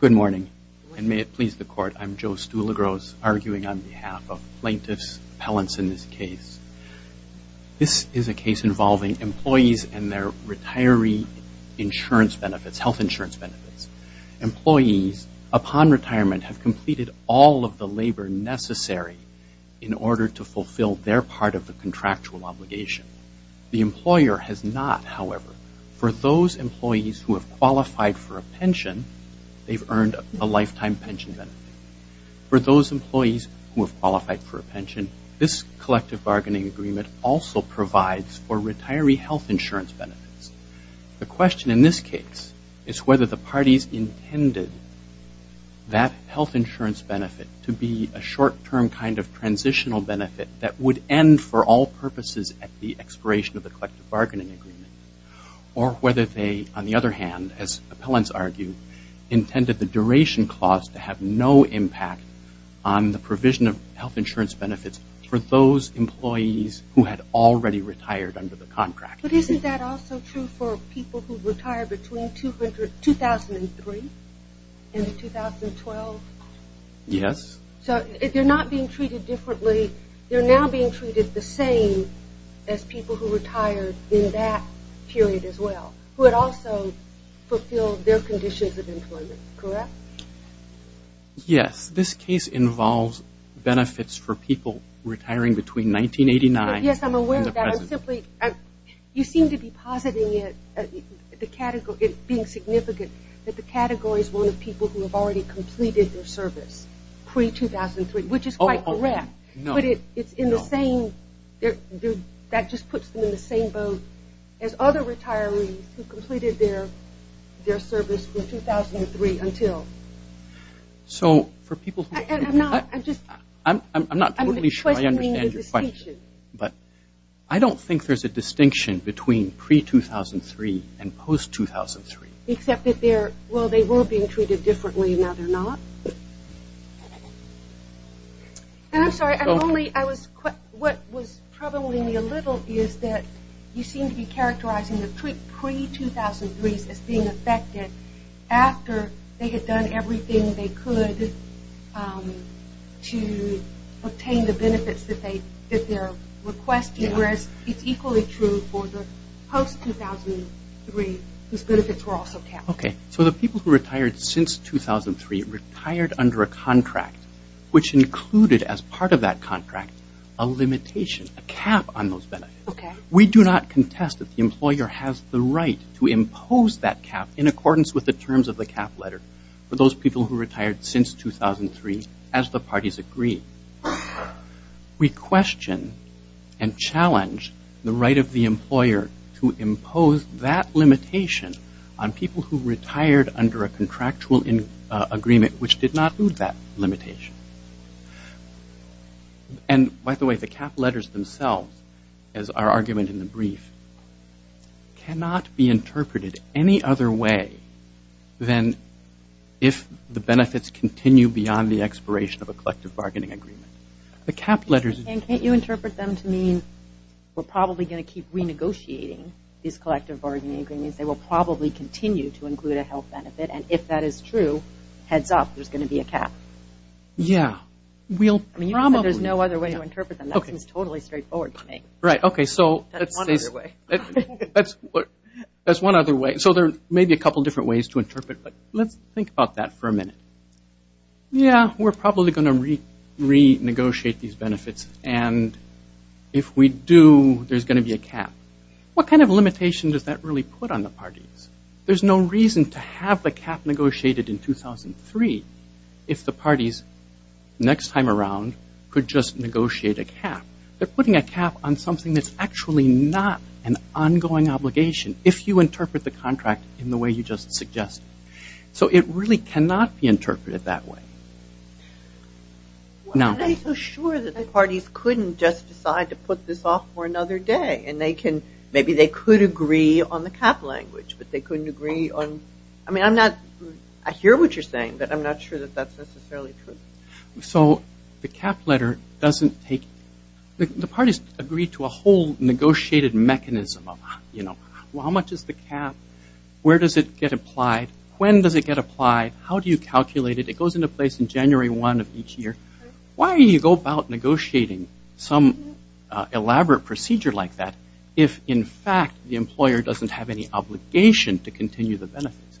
Good morning, and may it please the Court, I'm Joe Stulegros, arguing on behalf of plaintiffs, appellants in this case. This is a case involving employees and their retiree insurance benefits, health insurance benefits. Employees, upon retirement, have completed all of the labor necessary in order to fulfill their part of the contractual obligation. The employer has not, however, for those employees who have qualified for a pension, they've earned a lifetime pension benefit. For those employees who have qualified for a pension, this collective bargaining agreement also provides for retiree health insurance benefits. The question in this case is whether the parties intended that health insurance benefit to be a short-term kind of transitional benefit that would end for all purposes at the expiration of the collective bargaining agreement, or whether they, on the other hand, as appellants argue, intended the duration clause to have no impact on the provision of health insurance benefits for those employees who had already retired under the contract. But isn't that also true for people who retire between 2003 and 2012? Yes. So if they're not being treated differently, they're now being treated the same as people who retired in that period as well, who had also fulfilled their conditions of employment, correct? Yes. This case involves benefits for people retiring between 1989 and the present. Yes, I'm aware of that. I'm simply, you seem to be positing it, being significant, that the category is one of people who have already completed their service pre-2003, which is quite correct. No. But it's in the same, that just puts them in the same boat as other retirees who completed their service from 2003 until. So for people who, I'm not totally sure I understand your question. But I don't think there's a distinction between pre-2003 and post-2003. Except that they're, well, they were being treated differently and now they're not. And I'm sorry, I'm only, I was, what was troubling me a little is that you seem to be characterizing the pre-2003s as being affected after they had done everything they could to obtain the benefits that they requested, whereas it's equally true for the post-2003 whose benefits were also capped. Okay. So the people who retired since 2003 retired under a contract which included as part of that contract a limitation, a cap on those benefits. We do not contest that the employer has the right to impose that cap in accordance with the terms of the parties agreed. We question and challenge the right of the employer to impose that limitation on people who retired under a contractual agreement which did not include that limitation. And by the way, the cap letters themselves, as our argument in the brief, cannot be interpreted any other way than if the benefits continue beyond the expiration of a collective bargaining agreement. The cap letters- And can't you interpret them to mean we're probably going to keep renegotiating these collective bargaining agreements, they will probably continue to include a health benefit, and if that is true, heads up, there's going to be a cap. Yeah. We'll probably- I mean, you said there's no other way to interpret them. That seems totally straightforward to me. Right. Okay. So- That's one other way. That's one other way. So there may be a couple different ways to interpret, but let's think about that for a minute. Yeah, we're probably going to renegotiate these benefits, and if we do, there's going to be a cap. What kind of limitation does that really put on the parties? There's no reason to have the cap negotiated in 2003 if the parties, next time around, could just negotiate a cap. They're putting a cap on something that's actually not an ongoing obligation, if you interpret the contract in the way you just suggested. So it really cannot be interpreted that way. Now- I'm not so sure that the parties couldn't just decide to put this off for another day, and maybe they could agree on the cap language, but they couldn't agree on- I mean, I'm not- I hear what you're saying, but I'm not sure that that's necessarily true. So the cap letter doesn't take- the parties agree to a whole negotiated mechanism of, you know, well, how much is the cap? Where does it get applied? When does it get applied? How do you calculate it? It goes into place in January 1 of each year. Why do you go about negotiating some elaborate procedure like that if, in fact, the employer doesn't have any obligation to continue the benefits?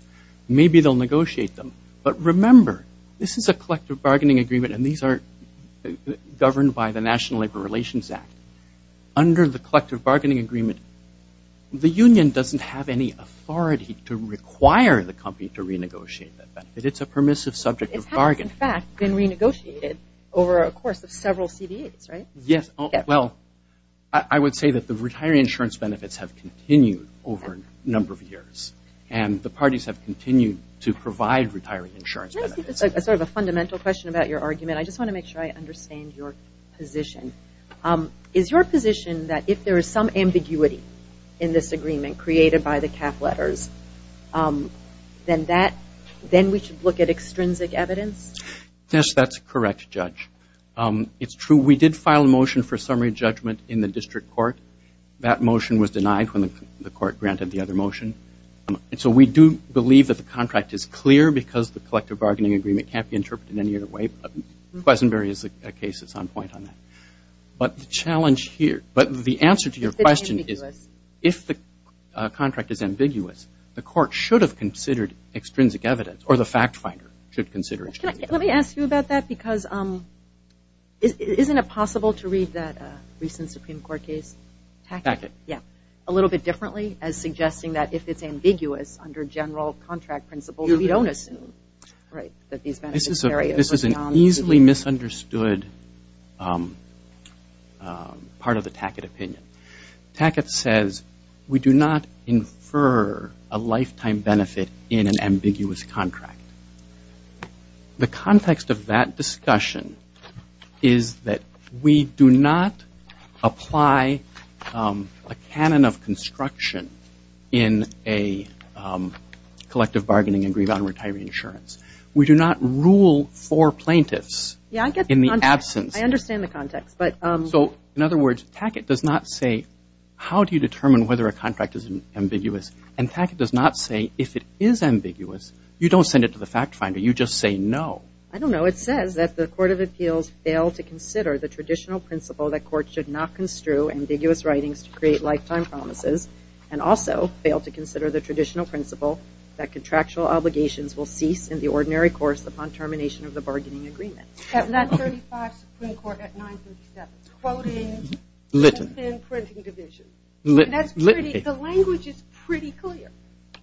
Maybe they'll negotiate them. But remember, this is a collective bargaining agreement, and these are governed by the National Labor Relations Act. Under the collective bargaining agreement, the union doesn't have any authority to require the company to renegotiate that benefit. It's a permissive subject of bargain. It has, in fact, been renegotiated over a course of several CBAs, right? Yes. Well, I would say that the retiree insurance benefits have continued over a number of years, and the parties have continued to provide retiree insurance benefits. I think that's sort of a fundamental question about your argument. I just want to make sure I understand your position. Is your position that if there is some ambiguity in this agreement created by the cap letters, then we should look at extrinsic evidence? Yes, that's correct, Judge. It's true we did file a motion for summary judgment in the district court. That motion was denied when the court granted the other motion. And so we do believe that the contract is clear because the collective bargaining agreement can't be interpreted any other way. But Quesenberry is a case that's on point on that. But the challenge here, but the answer to your question is if the contract is ambiguous, the court should have considered extrinsic evidence, or the fact finder should consider extrinsic evidence. Let me ask you about that because isn't it possible to read that recent Supreme Court case? Tackett. Yeah, a little bit differently as suggesting that if it's ambiguous under general contract principles, you don't assume that these benefits are beyond the contract. This is an easily misunderstood part of the Tackett opinion. Tackett says we do not infer a lifetime benefit in an ambiguous contract. The context of that discussion is that we do not apply a canon of construction in a collective bargaining agreement on retiree insurance. We do not rule for plaintiffs in the absence. Yeah, I get the context. I understand the context. So in other words, Tackett does not say how do you determine whether a contract is ambiguous, and Tackett does not say if it is ambiguous, you don't send it to the fact finder. You just say no. I don't know. It says that the court of appeals failed to consider the traditional principle that courts should not construe ambiguous writings to create lifetime promises and also failed to consider the traditional principle that contractual obligations will cease in the ordinary course upon termination of the bargaining agreement. That's 35 Supreme Court at 937. It's quoting the printing division. The language is pretty clear.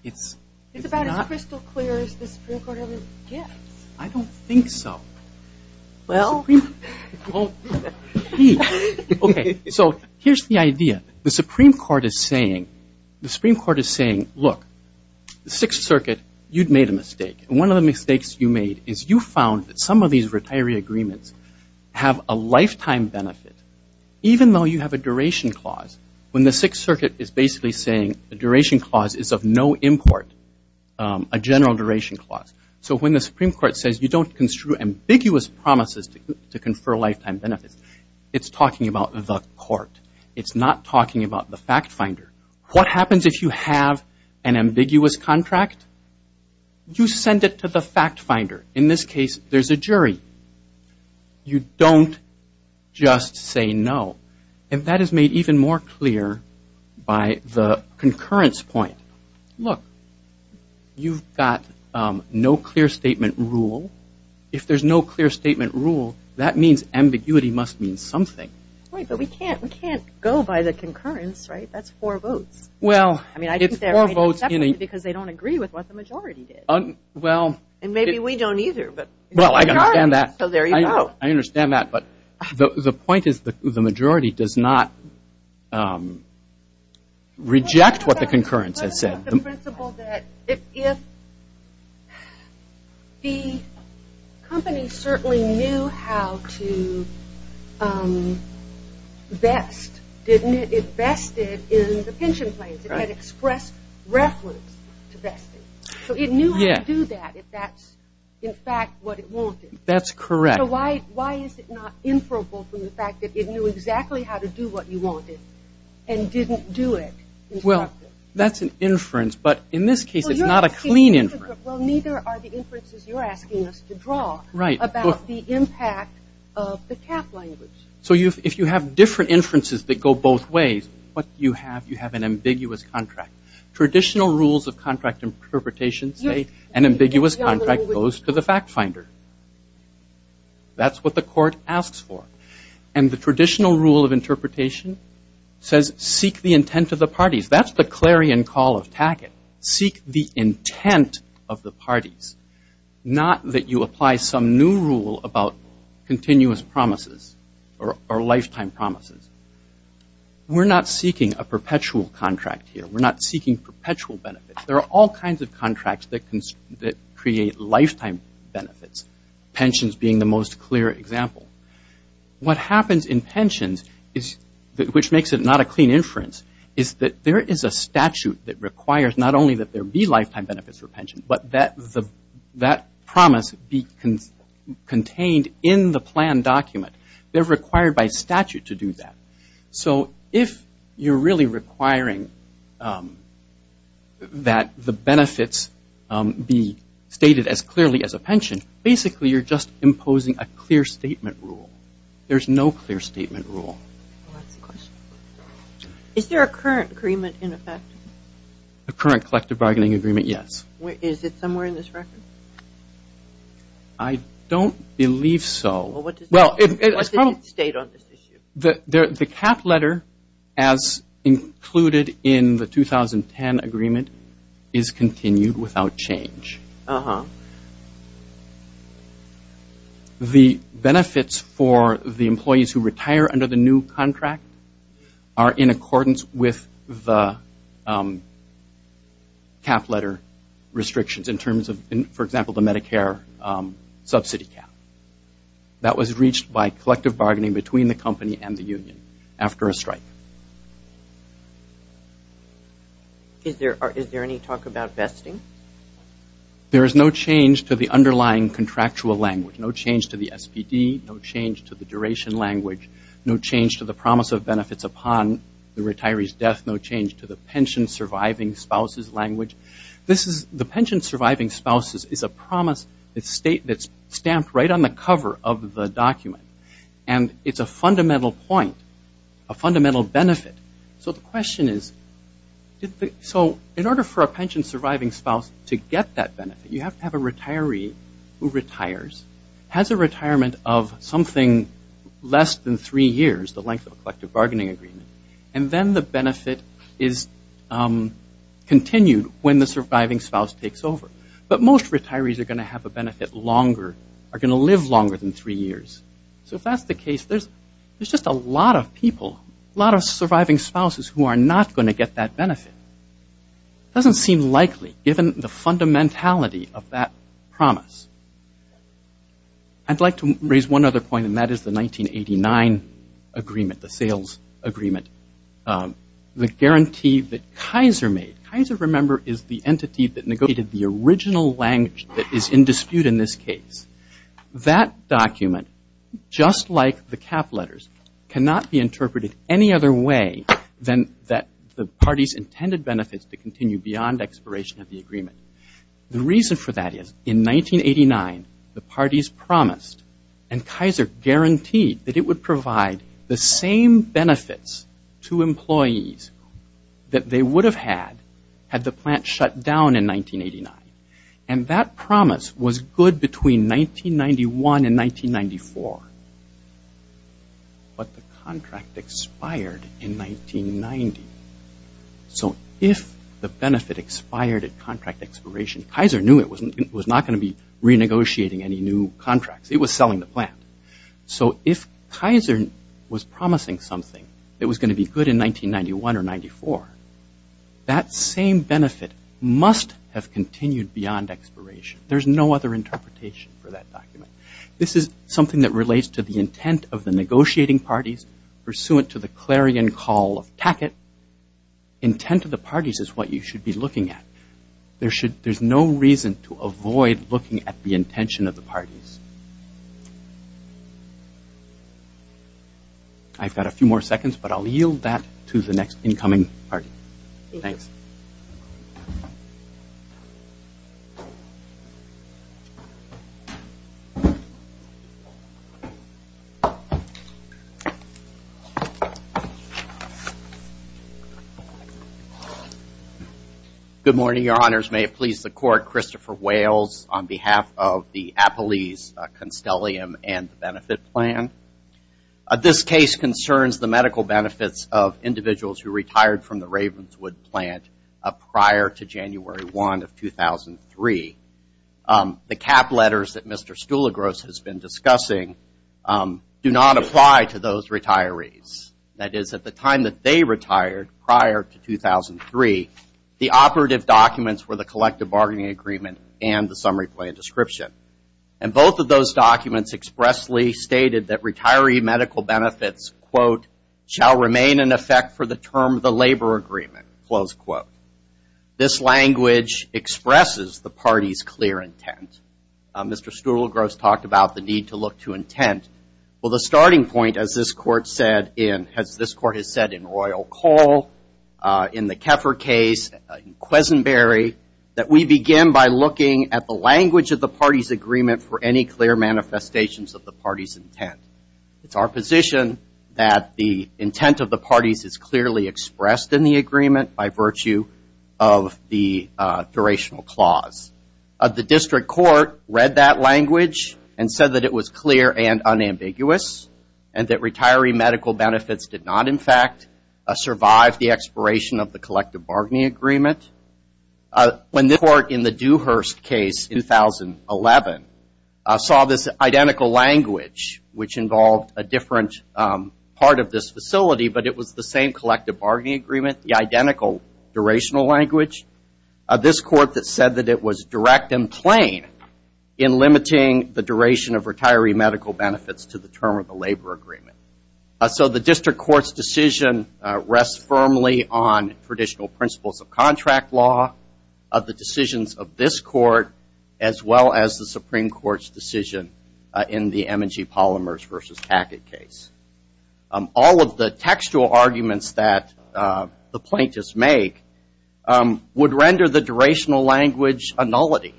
It's about as crystal clear as the Supreme Court ever gets. I don't think so. So here's the idea. The Supreme Court is saying, look, the Sixth Circuit, you've made a mistake. One of the mistakes you made is you found that some of these retiree agreements have a lifetime benefit, even though you have a duration clause, when the Sixth Circuit is basically saying the duration clause is of no import, a general duration clause. So when the Supreme Court says you don't construe ambiguous promises to confer lifetime benefits, it's talking about the court. It's not talking about the fact finder. What happens if you have an ambiguous contract? You send it to the fact finder. In this case, there's a jury. You don't just say no. And that is made even more clear by the concurrence point. Look, you've got no clear statement rule. If there's no clear statement rule, that means ambiguity must mean something. Right, but we can't go by the concurrence, right? That's four votes. Well, it's four votes. Because they don't agree with what the majority did. And maybe we don't either. Well, I understand that. So there you go. I understand that. But the point is the majority does not reject what the concurrence has said. If the company certainly knew how to vest, didn't it? It vested in the pension plans. It had expressed reference to vesting. So it knew how to do that if that's, in fact, what it wanted. That's correct. So why is it not inferable from the fact that it knew exactly how to do what you wanted and didn't do it? Well, that's an inference. But in this case, it's not a clean inference. Well, neither are the inferences you're asking us to draw about the impact of the cap language. So if you have different inferences that go both ways, what do you have? You have an ambiguous contract. Traditional rules of contract interpretation say an ambiguous contract goes to the fact finder. That's what the court asks for. And the traditional rule of interpretation says seek the intent of the parties. That's the clarion call of Tackett. Seek the intent of the parties, not that you apply some new rule about continuous promises or lifetime promises. We're not seeking a perpetual contract here. We're not seeking perpetual benefits. There are all kinds of contracts that create lifetime benefits, pensions being the most clear example. What happens in pensions, which makes it not a clean inference, is that there is a statute that requires not only that there be lifetime benefits for pensions, but that promise be contained in the plan document. They're required by statute to do that. So if you're really requiring that the benefits be stated as clearly as a pension, basically you're just imposing a clear statement rule. There's no clear statement rule. Is there a current agreement in effect? A current collective bargaining agreement, yes. Is it somewhere in this record? I don't believe so. Well, what does it state on this issue? The cap letter, as included in the 2010 agreement, is continued without change. The benefits for the employees who retire under the new contract are in accordance with the cap letter restrictions in terms of, for example, the Medicare subsidy cap. That was reached by collective bargaining between the company and the union after a strike. Is there any talk about vesting? There is no change to the underlying contractual language, no change to the SPD, no change to the duration language, no change to the promise of benefits upon the retiree's death, no change to the pension surviving spouses language. The pension surviving spouses is a promise that's stamped right on the cover of the document, and it's a fundamental point, a fundamental benefit. So the question is, in order for a pension surviving spouse to get that benefit, you have to have a retiree who retires, has a retirement of something less than three years, the length of a collective bargaining agreement, and then the benefit is continued when the surviving spouse takes over. But most retirees are going to have a benefit longer, are going to live longer than three years. So if that's the case, there's just a lot of people, a lot of surviving spouses who are not going to get that benefit. It doesn't seem likely, given the fundamentality of that promise. I'd like to raise one other point, and that is the 1989 agreement, the sales agreement, the guarantee that Kaiser made. Kaiser, remember, is the entity that negotiated the original language that is in dispute in this case. That document, just like the cap letters, cannot be interpreted any other way than that the parties intended benefits to continue beyond expiration of the agreement. The reason for that is, in 1989, the parties promised, and Kaiser guaranteed, that it would provide the same benefits to employees that they would have had, had the plant shut down in 1989. And that promise was good between 1991 and 1994. But the contract expired in 1990. So if the benefit expired at contract expiration, Kaiser knew it was not going to be renegotiating any new contracts. It was selling the plant. So if Kaiser was promising something that was going to be good in 1991 or 94, that same benefit must have continued beyond expiration. There's no other interpretation for that document. This is something that relates to the intent of the negotiating parties, pursuant to the clarion call of Tackett, intent of the parties is what you should be looking at. There's no reason to avoid looking at the intention of the parties. I've got a few more seconds, but I'll yield that to the next incoming party. Thanks. Good morning, Your Honors. May it please the Court, Christopher Wales, on behalf of the Appalese Constellium and the Benefit Plan. This case concerns the medical benefits of individuals who retired from the Ravenswood plant prior to January 1 of 2003. The cap letters that Mr. Stoolagross has been discussing do not apply to those retirees. That is, at the time that they retired prior to 2003, the operative documents were the collective bargaining agreement and the summary plan description. And both of those documents expressly stated that retiree medical benefits, quote, shall remain in effect for the term of the labor agreement, close quote. This language expresses the party's clear intent. Mr. Stoolagross talked about the need to look to intent. Well, the starting point, as this Court has said in Royal Cole, in the Kepher case, in Quesenberry, that we begin by looking at the language of the party's agreement for any clear manifestations of the party's intent. It's our position that the intent of the parties is clearly expressed in the agreement by virtue of the durational clause. The district court read that language and said that it was clear and unambiguous and that retiree medical benefits did not, in fact, survive the expiration of the collective bargaining agreement. When this Court, in the Dewhurst case in 2011, saw this identical language, which involved a different part of this facility but it was the same collective bargaining agreement, the identical durational language, this Court that said that it was direct and plain in limiting the duration of retiree medical benefits to the term of the labor agreement. So the district court's decision rests firmly on traditional principles of contract law, of the decisions of this Court, as well as the Supreme Court's decision in the M&G Polymers v. Packett case. All of the textual arguments that the plaintiffs make would render the durational language a nullity.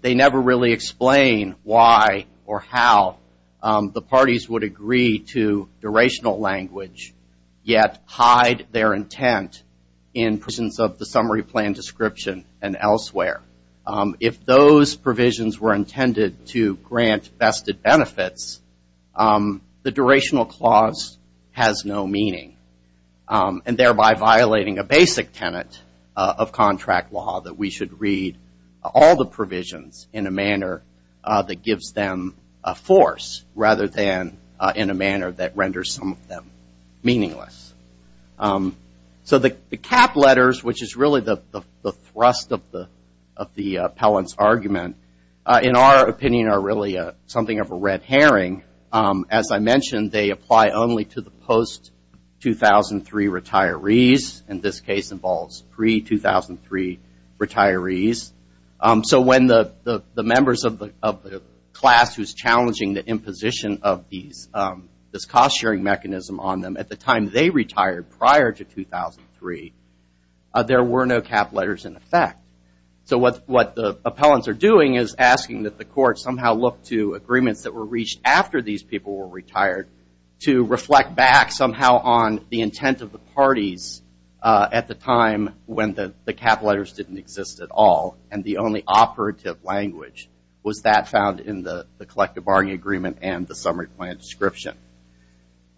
They never really explain why or how the parties would agree to durational language, yet hide their intent in the summary plan description and elsewhere. If those provisions were intended to grant vested benefits, the durational clause has no meaning, and thereby violating a basic tenet of contract law that we should read all the provisions in a manner that gives them a force rather than in a manner that renders some of them meaningless. So the cap letters, which is really the thrust of the appellant's argument, in our opinion are really something of a red herring. As I mentioned, they apply only to the post-2003 retirees. And this case involves pre-2003 retirees. So when the members of the class who's challenging the imposition of this cost-sharing mechanism on them, at the time they retired prior to 2003, there were no cap letters in effect. So what the appellants are doing is asking that the court somehow look to agreements that were reached after these people were retired to reflect back somehow on the intent of the parties at the time when the cap letters didn't exist at all. And the only operative language was that found in the collective bargaining agreement and the summary plan description.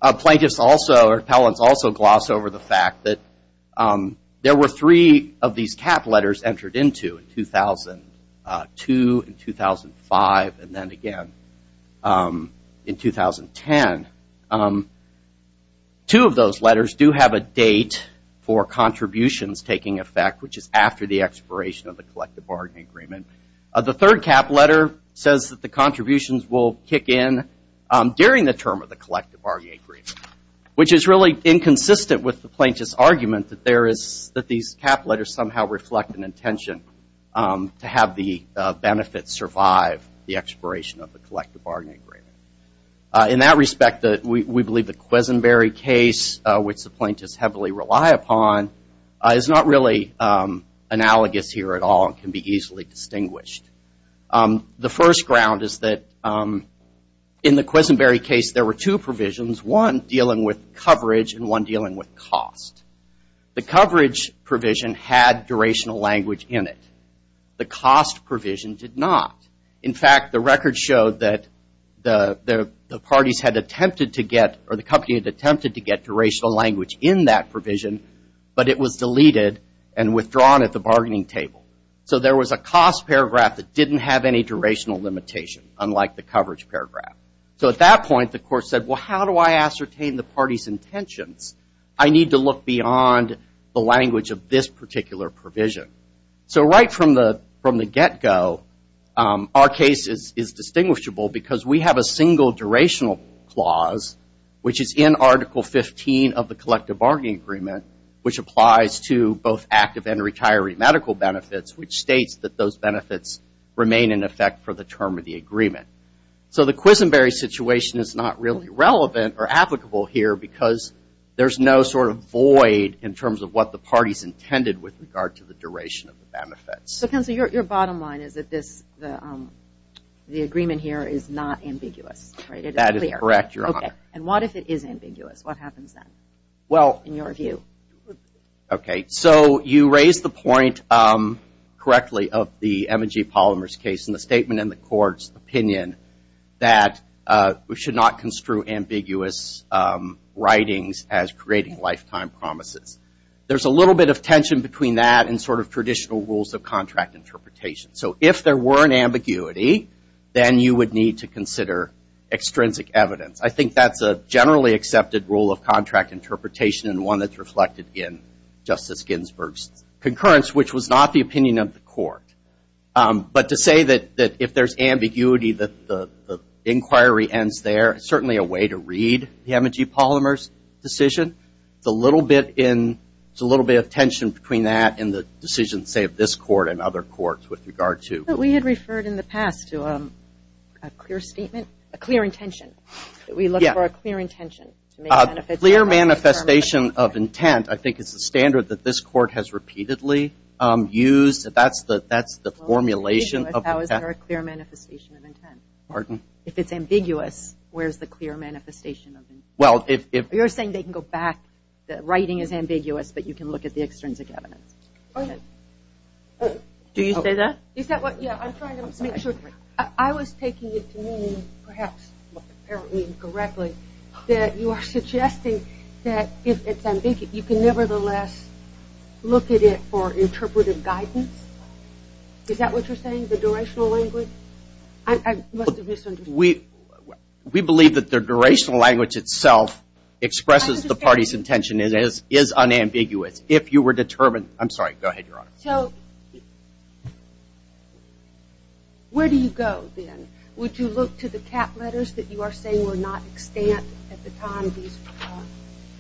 Plaintiffs also or appellants also gloss over the fact that there were three of these cap letters entered into in 2002 and 2005 and then again in 2010. Two of those letters do have a date for contributions taking effect, which is after the expiration of the collective bargaining agreement. The third cap letter says that the contributions will kick in during the term of the collective bargaining agreement, which is really inconsistent with the plaintiff's argument that these cap letters somehow reflect an intention to have the benefits survive the expiration of the collective bargaining agreement. In that respect, we believe the Quisenberry case, which the plaintiffs heavily rely upon, is not really analogous here at all and can be easily distinguished. The first ground is that in the Quisenberry case there were two provisions, one dealing with coverage and one dealing with cost. The coverage provision had durational language in it. The cost provision did not. In fact, the record showed that the parties had attempted to get durational language in that provision, but it was deleted and withdrawn at the bargaining table. There was a cost paragraph that didn't have any durational limitation, unlike the coverage paragraph. At that point, the court said, well, how do I ascertain the party's intentions? I need to look beyond the language of this particular provision. Right from the get-go, our case is distinguishable because we have a single durational clause which is in Article 15 of the collective bargaining agreement, which applies to both active and retiree medical benefits, which states that those benefits remain in effect for the term of the agreement. So the Quisenberry situation is not really relevant or applicable here because there's no sort of void in terms of what the parties intended with regard to the duration of the benefits. So, Counselor, your bottom line is that the agreement here is not ambiguous, right? That is correct, Your Honor. Okay. And what if it is ambiguous? What happens then, in your view? Okay. So you raise the point correctly of the M&G Polymers case in the statement in the court's opinion that we should not construe ambiguous writings as creating lifetime promises. There's a little bit of tension between that and sort of traditional rules of contract interpretation. So if there were an ambiguity, then you would need to consider extrinsic evidence. I think that's a generally accepted rule of contract interpretation and one that's reflected in Justice Ginsburg's concurrence, which was not the opinion of the court. But to say that if there's ambiguity that the inquiry ends there, it's certainly a way to read the M&G Polymers decision. There's a little bit of tension between that and the decision, say, of this court and other courts with regard to- But we had referred in the past to a clear statement, a clear intention. We look for a clear intention. A clear manifestation of intent, I think, is the standard that this court has repeatedly used. That's the formulation of- How is there a clear manifestation of intent? Pardon? If it's ambiguous, where's the clear manifestation of intent? Well, if- You're saying they can go back. The writing is ambiguous, but you can look at the extrinsic evidence. Go ahead. Do you say that? Is that what- Yeah, I'm trying to make sure. I was taking it to mean, perhaps, apparently incorrectly, that you are suggesting that if it's ambiguous, you can nevertheless look at it for interpretive guidance? Is that what you're saying, the durational language? I must have misunderstood. We believe that the durational language itself expresses the party's intention. It is unambiguous. If you were determined- I'm sorry, go ahead, Your Honor. So, where do you go, then? Would you look to the cap letters that you are saying were not extant at the time these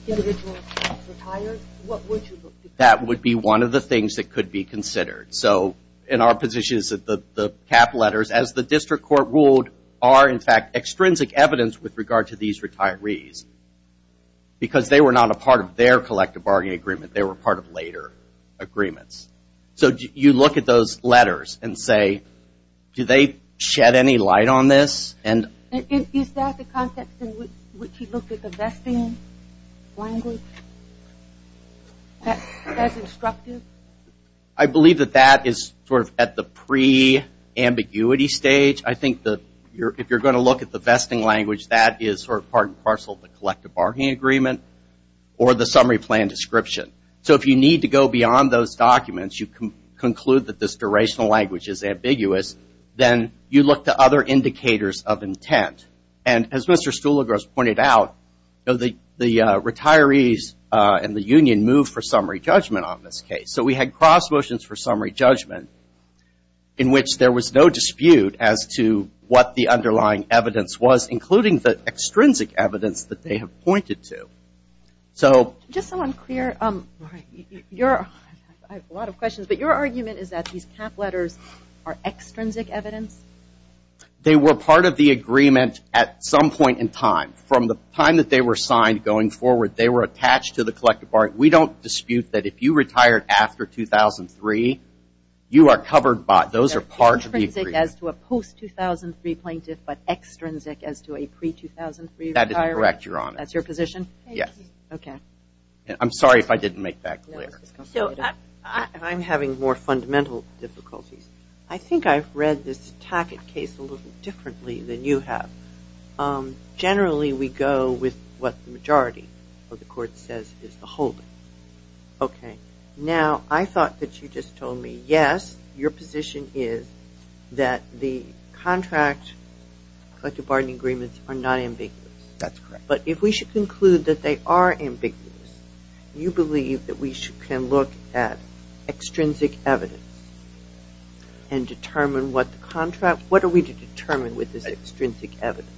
individuals retired? What would you look to? That would be one of the things that could be considered. So, in our position, the cap letters, as the district court ruled, are, in fact, extrinsic evidence with regard to these retirees because they were not a part of their collective bargaining agreement. They were part of later agreements. So, you look at those letters and say, do they shed any light on this? Is that the context in which you look at the vesting language as instructive? I believe that that is sort of at the pre-ambiguity stage. I think that if you're going to look at the vesting language, that is sort of part and parcel of the collective bargaining agreement or the summary plan description. So, if you need to go beyond those documents, you conclude that this durational language is ambiguous, then you look to other indicators of intent. And as Mr. Stuhliger has pointed out, the retirees and the union move for summary judgment on this case. So, we had cross motions for summary judgment in which there was no dispute as to what the underlying evidence was, including the extrinsic evidence that they have pointed to. Just so I'm clear, I have a lot of questions, but your argument is that these cap letters are extrinsic evidence? They were part of the agreement at some point in time. From the time that they were signed going forward, they were attached to the collective bargaining. We don't dispute that if you retired after 2003, you are covered by – those are parts of the agreement. Extrinsic as to a post-2003 plaintiff, but extrinsic as to a pre-2003 retiree? That is correct, Your Honor. That's your position? Yes. Okay. I'm sorry if I didn't make that clear. I'm having more fundamental difficulties. I think I've read this Tackett case a little differently than you have. Generally, we go with what the majority of the court says is the holdings. Okay. Now, I thought that you just told me, yes, your position is that the contract collective bargaining agreements are not ambiguous. That's correct. But if we should conclude that they are ambiguous, you believe that we can look at extrinsic evidence and determine what the contract – what are we to determine with this extrinsic evidence?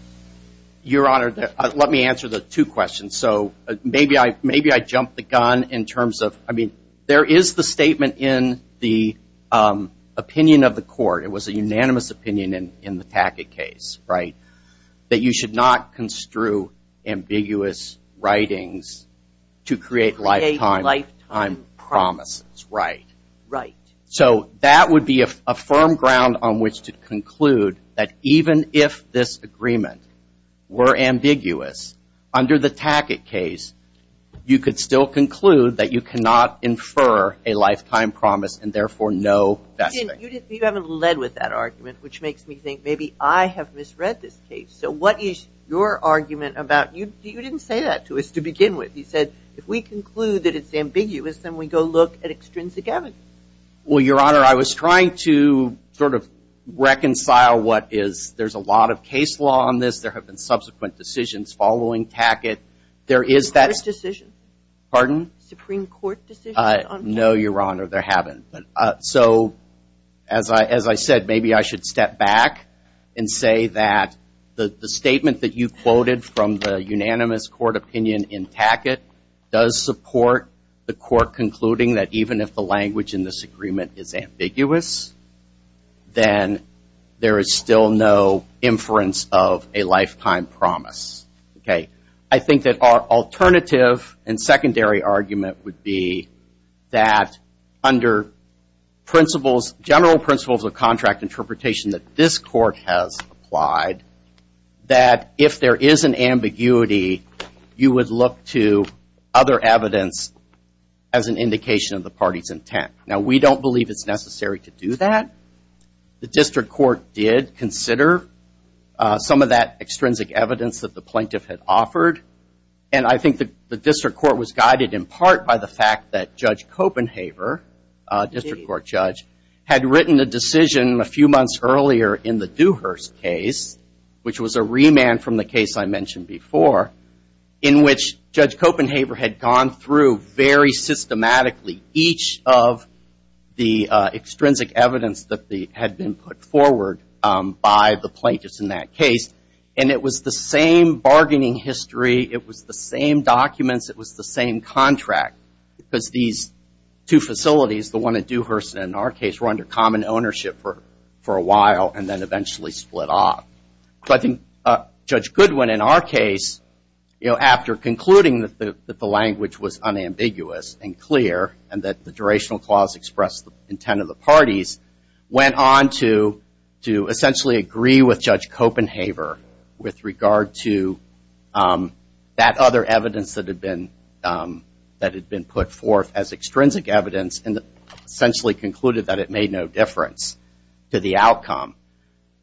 Your Honor, let me answer the two questions. So maybe I jumped the gun in terms of – I mean, there is the statement in the opinion of the court. It was a unanimous opinion in the Tackett case, right, that you should not construe ambiguous writings to create lifetime promises. Right. So that would be a firm ground on which to conclude that even if this agreement were ambiguous under the Tackett case, you could still conclude that you cannot infer a lifetime promise and therefore no – You haven't led with that argument, which makes me think maybe I have misread this case. So what is your argument about – you didn't say that to us to begin with. You said if we conclude that it's ambiguous, then we go look at extrinsic evidence. Well, Your Honor, I was trying to sort of reconcile what is – there's a lot of case law on this. There have been subsequent decisions following Tackett. There is that – Supreme Court decision. Pardon? Supreme Court decision. No, Your Honor, there haven't. So as I said, maybe I should step back and say that the statement that you quoted from the unanimous court opinion in Tackett does support the court concluding that even if the language in this agreement is ambiguous, then there is still no inference of a lifetime promise. I think that our alternative and secondary argument would be that under principles, general principles of contract interpretation that this court has applied, that if there is an ambiguity, you would look to other evidence as an indication of the party's intent. Now, we don't believe it's necessary to do that. The district court did consider some of that extrinsic evidence that the plaintiff had offered, and I think the district court was guided in part by the fact that Judge Copenhaver, district court judge, had written a decision a few months earlier in the Dewhurst case, which was a remand from the case I mentioned before, in which Judge Copenhaver had gone through very systematically each of the extrinsic evidence that had been put forward by the plaintiffs in that case. And it was the same bargaining history. It was the same documents. It was the same contract because these two facilities, the one at Dewhurst in our case, were under common ownership for a while and then eventually split off. But Judge Goodwin in our case, you know, after concluding that the language was unambiguous and clear and that the durational clause expressed the intent of the parties, went on to essentially agree with Judge Copenhaver with regard to that other evidence that had been put forth as extrinsic evidence and essentially concluded that it made no difference to the outcome.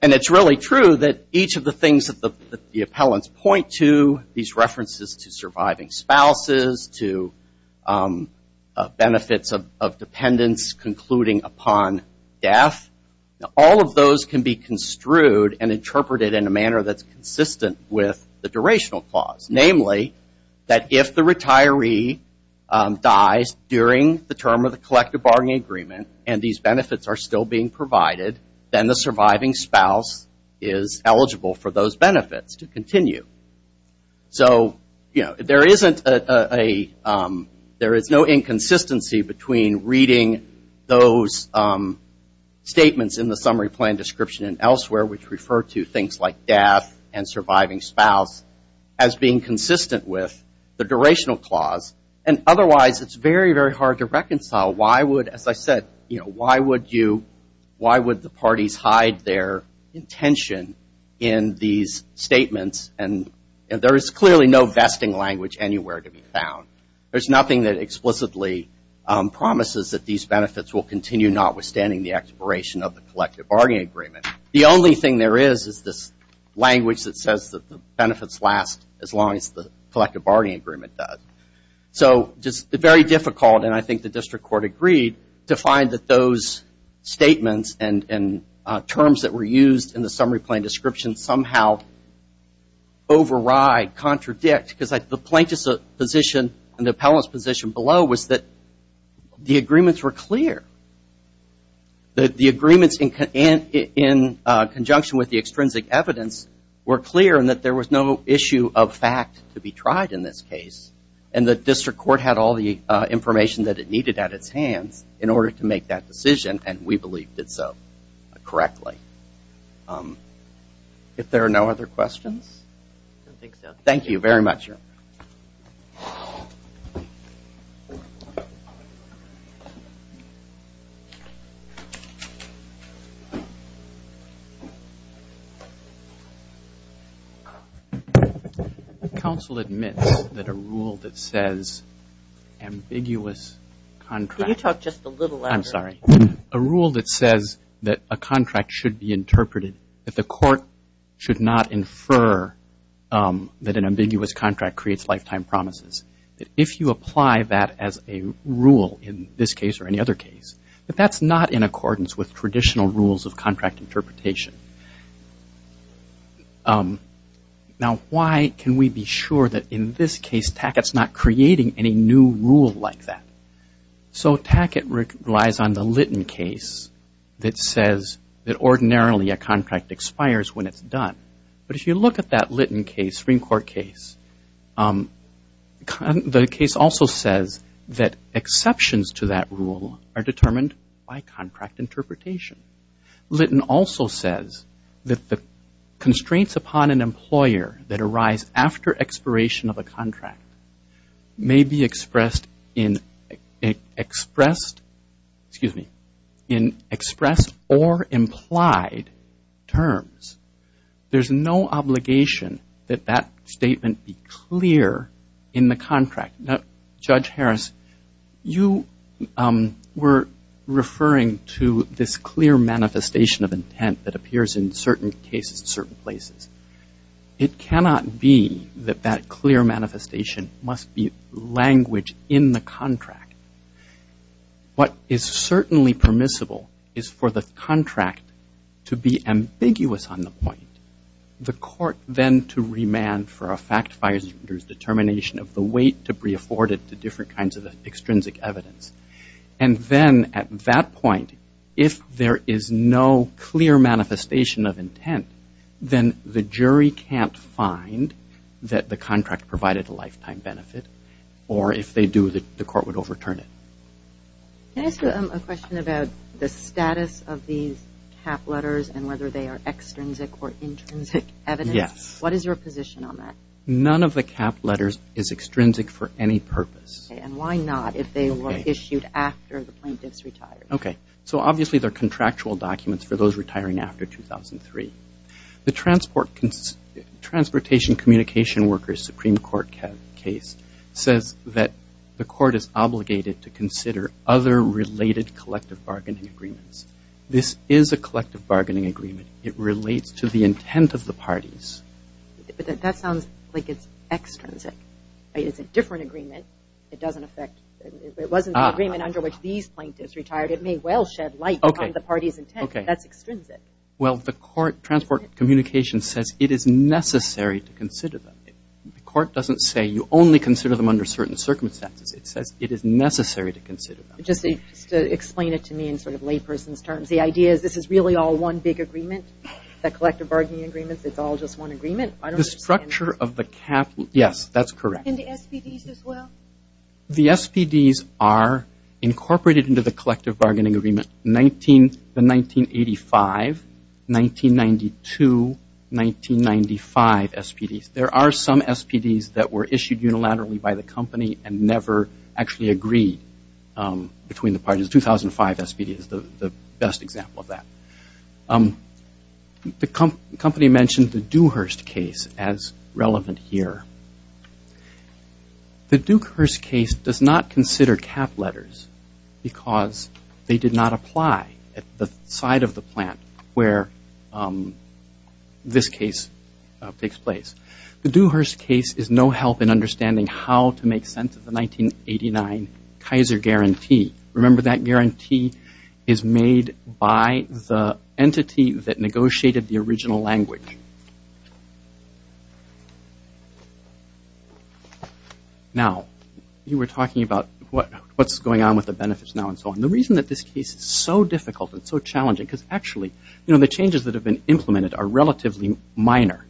And it's really true that each of the things that the appellants point to, these references to surviving spouses, to benefits of dependents concluding upon death, all of those can be construed and interpreted in a manner that's consistent with the durational clause. Namely, that if the retiree dies during the term of the collective bargaining agreement and these benefits are still being provided, then the surviving spouse is eligible for those benefits to continue. So, you know, there is no inconsistency between reading those statements in the summary plan description and elsewhere, which refer to things like death and surviving spouse, as being consistent with the durational clause. You know, why would, as I said, you know, why would you, why would the parties hide their intention in these statements? And there is clearly no vesting language anywhere to be found. There's nothing that explicitly promises that these benefits will continue, notwithstanding the expiration of the collective bargaining agreement. The only thing there is is this language that says that the benefits last as long as the collective bargaining agreement does. So, just very difficult, and I think the district court agreed, to find that those statements and terms that were used in the summary plan description somehow override, contradict, because the plaintiff's position and the appellant's position below was that the agreements were clear. The agreements in conjunction with the extrinsic evidence were clear and that there was no issue of fact to be tried in this case, and the district court had all the information that it needed at its hands in order to make that decision, and we believed it so correctly. If there are no other questions? Thank you very much. Counsel admits that a rule that says ambiguous contract. Can you talk just a little louder? I'm sorry. A rule that says that a contract should be interpreted, that the court should not infer that an ambiguous contract creates lifetime promises, that if you apply that as a rule in this case or any other case, that that's not in accordance with traditional rules of contract interpretation. Now, why can we be sure that in this case Tackett's not creating any new rule like that? So Tackett relies on the Litton case that says that ordinarily a contract expires when it's done, but if you look at that Litton case, Supreme Court case, the case also says that exceptions to that rule are determined by contract interpretation. Litton also says that the constraints upon an employer that arise after expiration of a contract may be expressed in expressed or implied terms. There's no obligation that that statement be clear in the contract. Now, Judge Harris, you were referring to this clear manifestation of intent that appears in certain cases in certain places. It cannot be that that clear manifestation must be language in the contract. What is certainly permissible is for the contract to be ambiguous on the point, the court then to remand for a factifier's determination of the weight to be afforded to different kinds of extrinsic evidence, and then at that point, if there is no clear manifestation of intent, then the jury can't find that the contract provided a lifetime benefit, or if they do, the court would overturn it. Can I ask you a question about the status of these cap letters and whether they are extrinsic or intrinsic evidence? Yes. What is your position on that? None of the cap letters is extrinsic for any purpose. And why not if they were issued after the plaintiff's retired? Okay. So obviously they're contractual documents for those retiring after 2003. The Transportation Communication Workers Supreme Court case says that the court is obligated to consider other related collective bargaining agreements. This is a collective bargaining agreement. It relates to the intent of the parties. But that sounds like it's extrinsic. It's a different agreement. It wasn't the agreement under which these plaintiffs retired. It may well shed light on the party's intent. That's extrinsic. Well, the court, Transport Communication, says it is necessary to consider them. The court doesn't say you only consider them under certain circumstances. It says it is necessary to consider them. Just explain it to me in sort of layperson's terms. The idea is this is really all one big agreement, the collective bargaining agreements, it's all just one agreement? The structure of the cap, yes, that's correct. And the SPDs as well? The SPDs are incorporated into the collective bargaining agreement, the 1985, 1992, 1995 SPDs. There are some SPDs that were issued unilaterally by the company and never actually agreed between the parties. The 2005 SPD is the best example of that. The company mentioned the Dewhurst case as relevant here. The Dewhurst case does not consider cap letters because they did not apply at the side of the plant where this case takes place. The Dewhurst case is no help in understanding how to make sense of the 1989 Kaiser guarantee. Remember that guarantee is made by the entity that negotiated the original language. Now, you were talking about what's going on with the benefits now and so on. The reason that this case is so difficult and so challenging because actually the changes that have been implemented are relatively minor.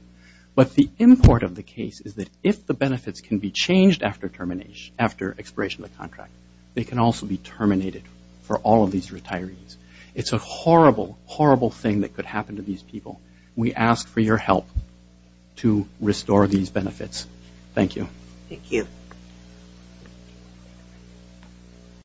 But the import of the case is that if the benefits can be changed after termination, after expiration of the contract, they can also be terminated for all of these retirees. It's a horrible, horrible thing that could happen to these people. We ask for your help to restore these benefits. Thank you. Thank you.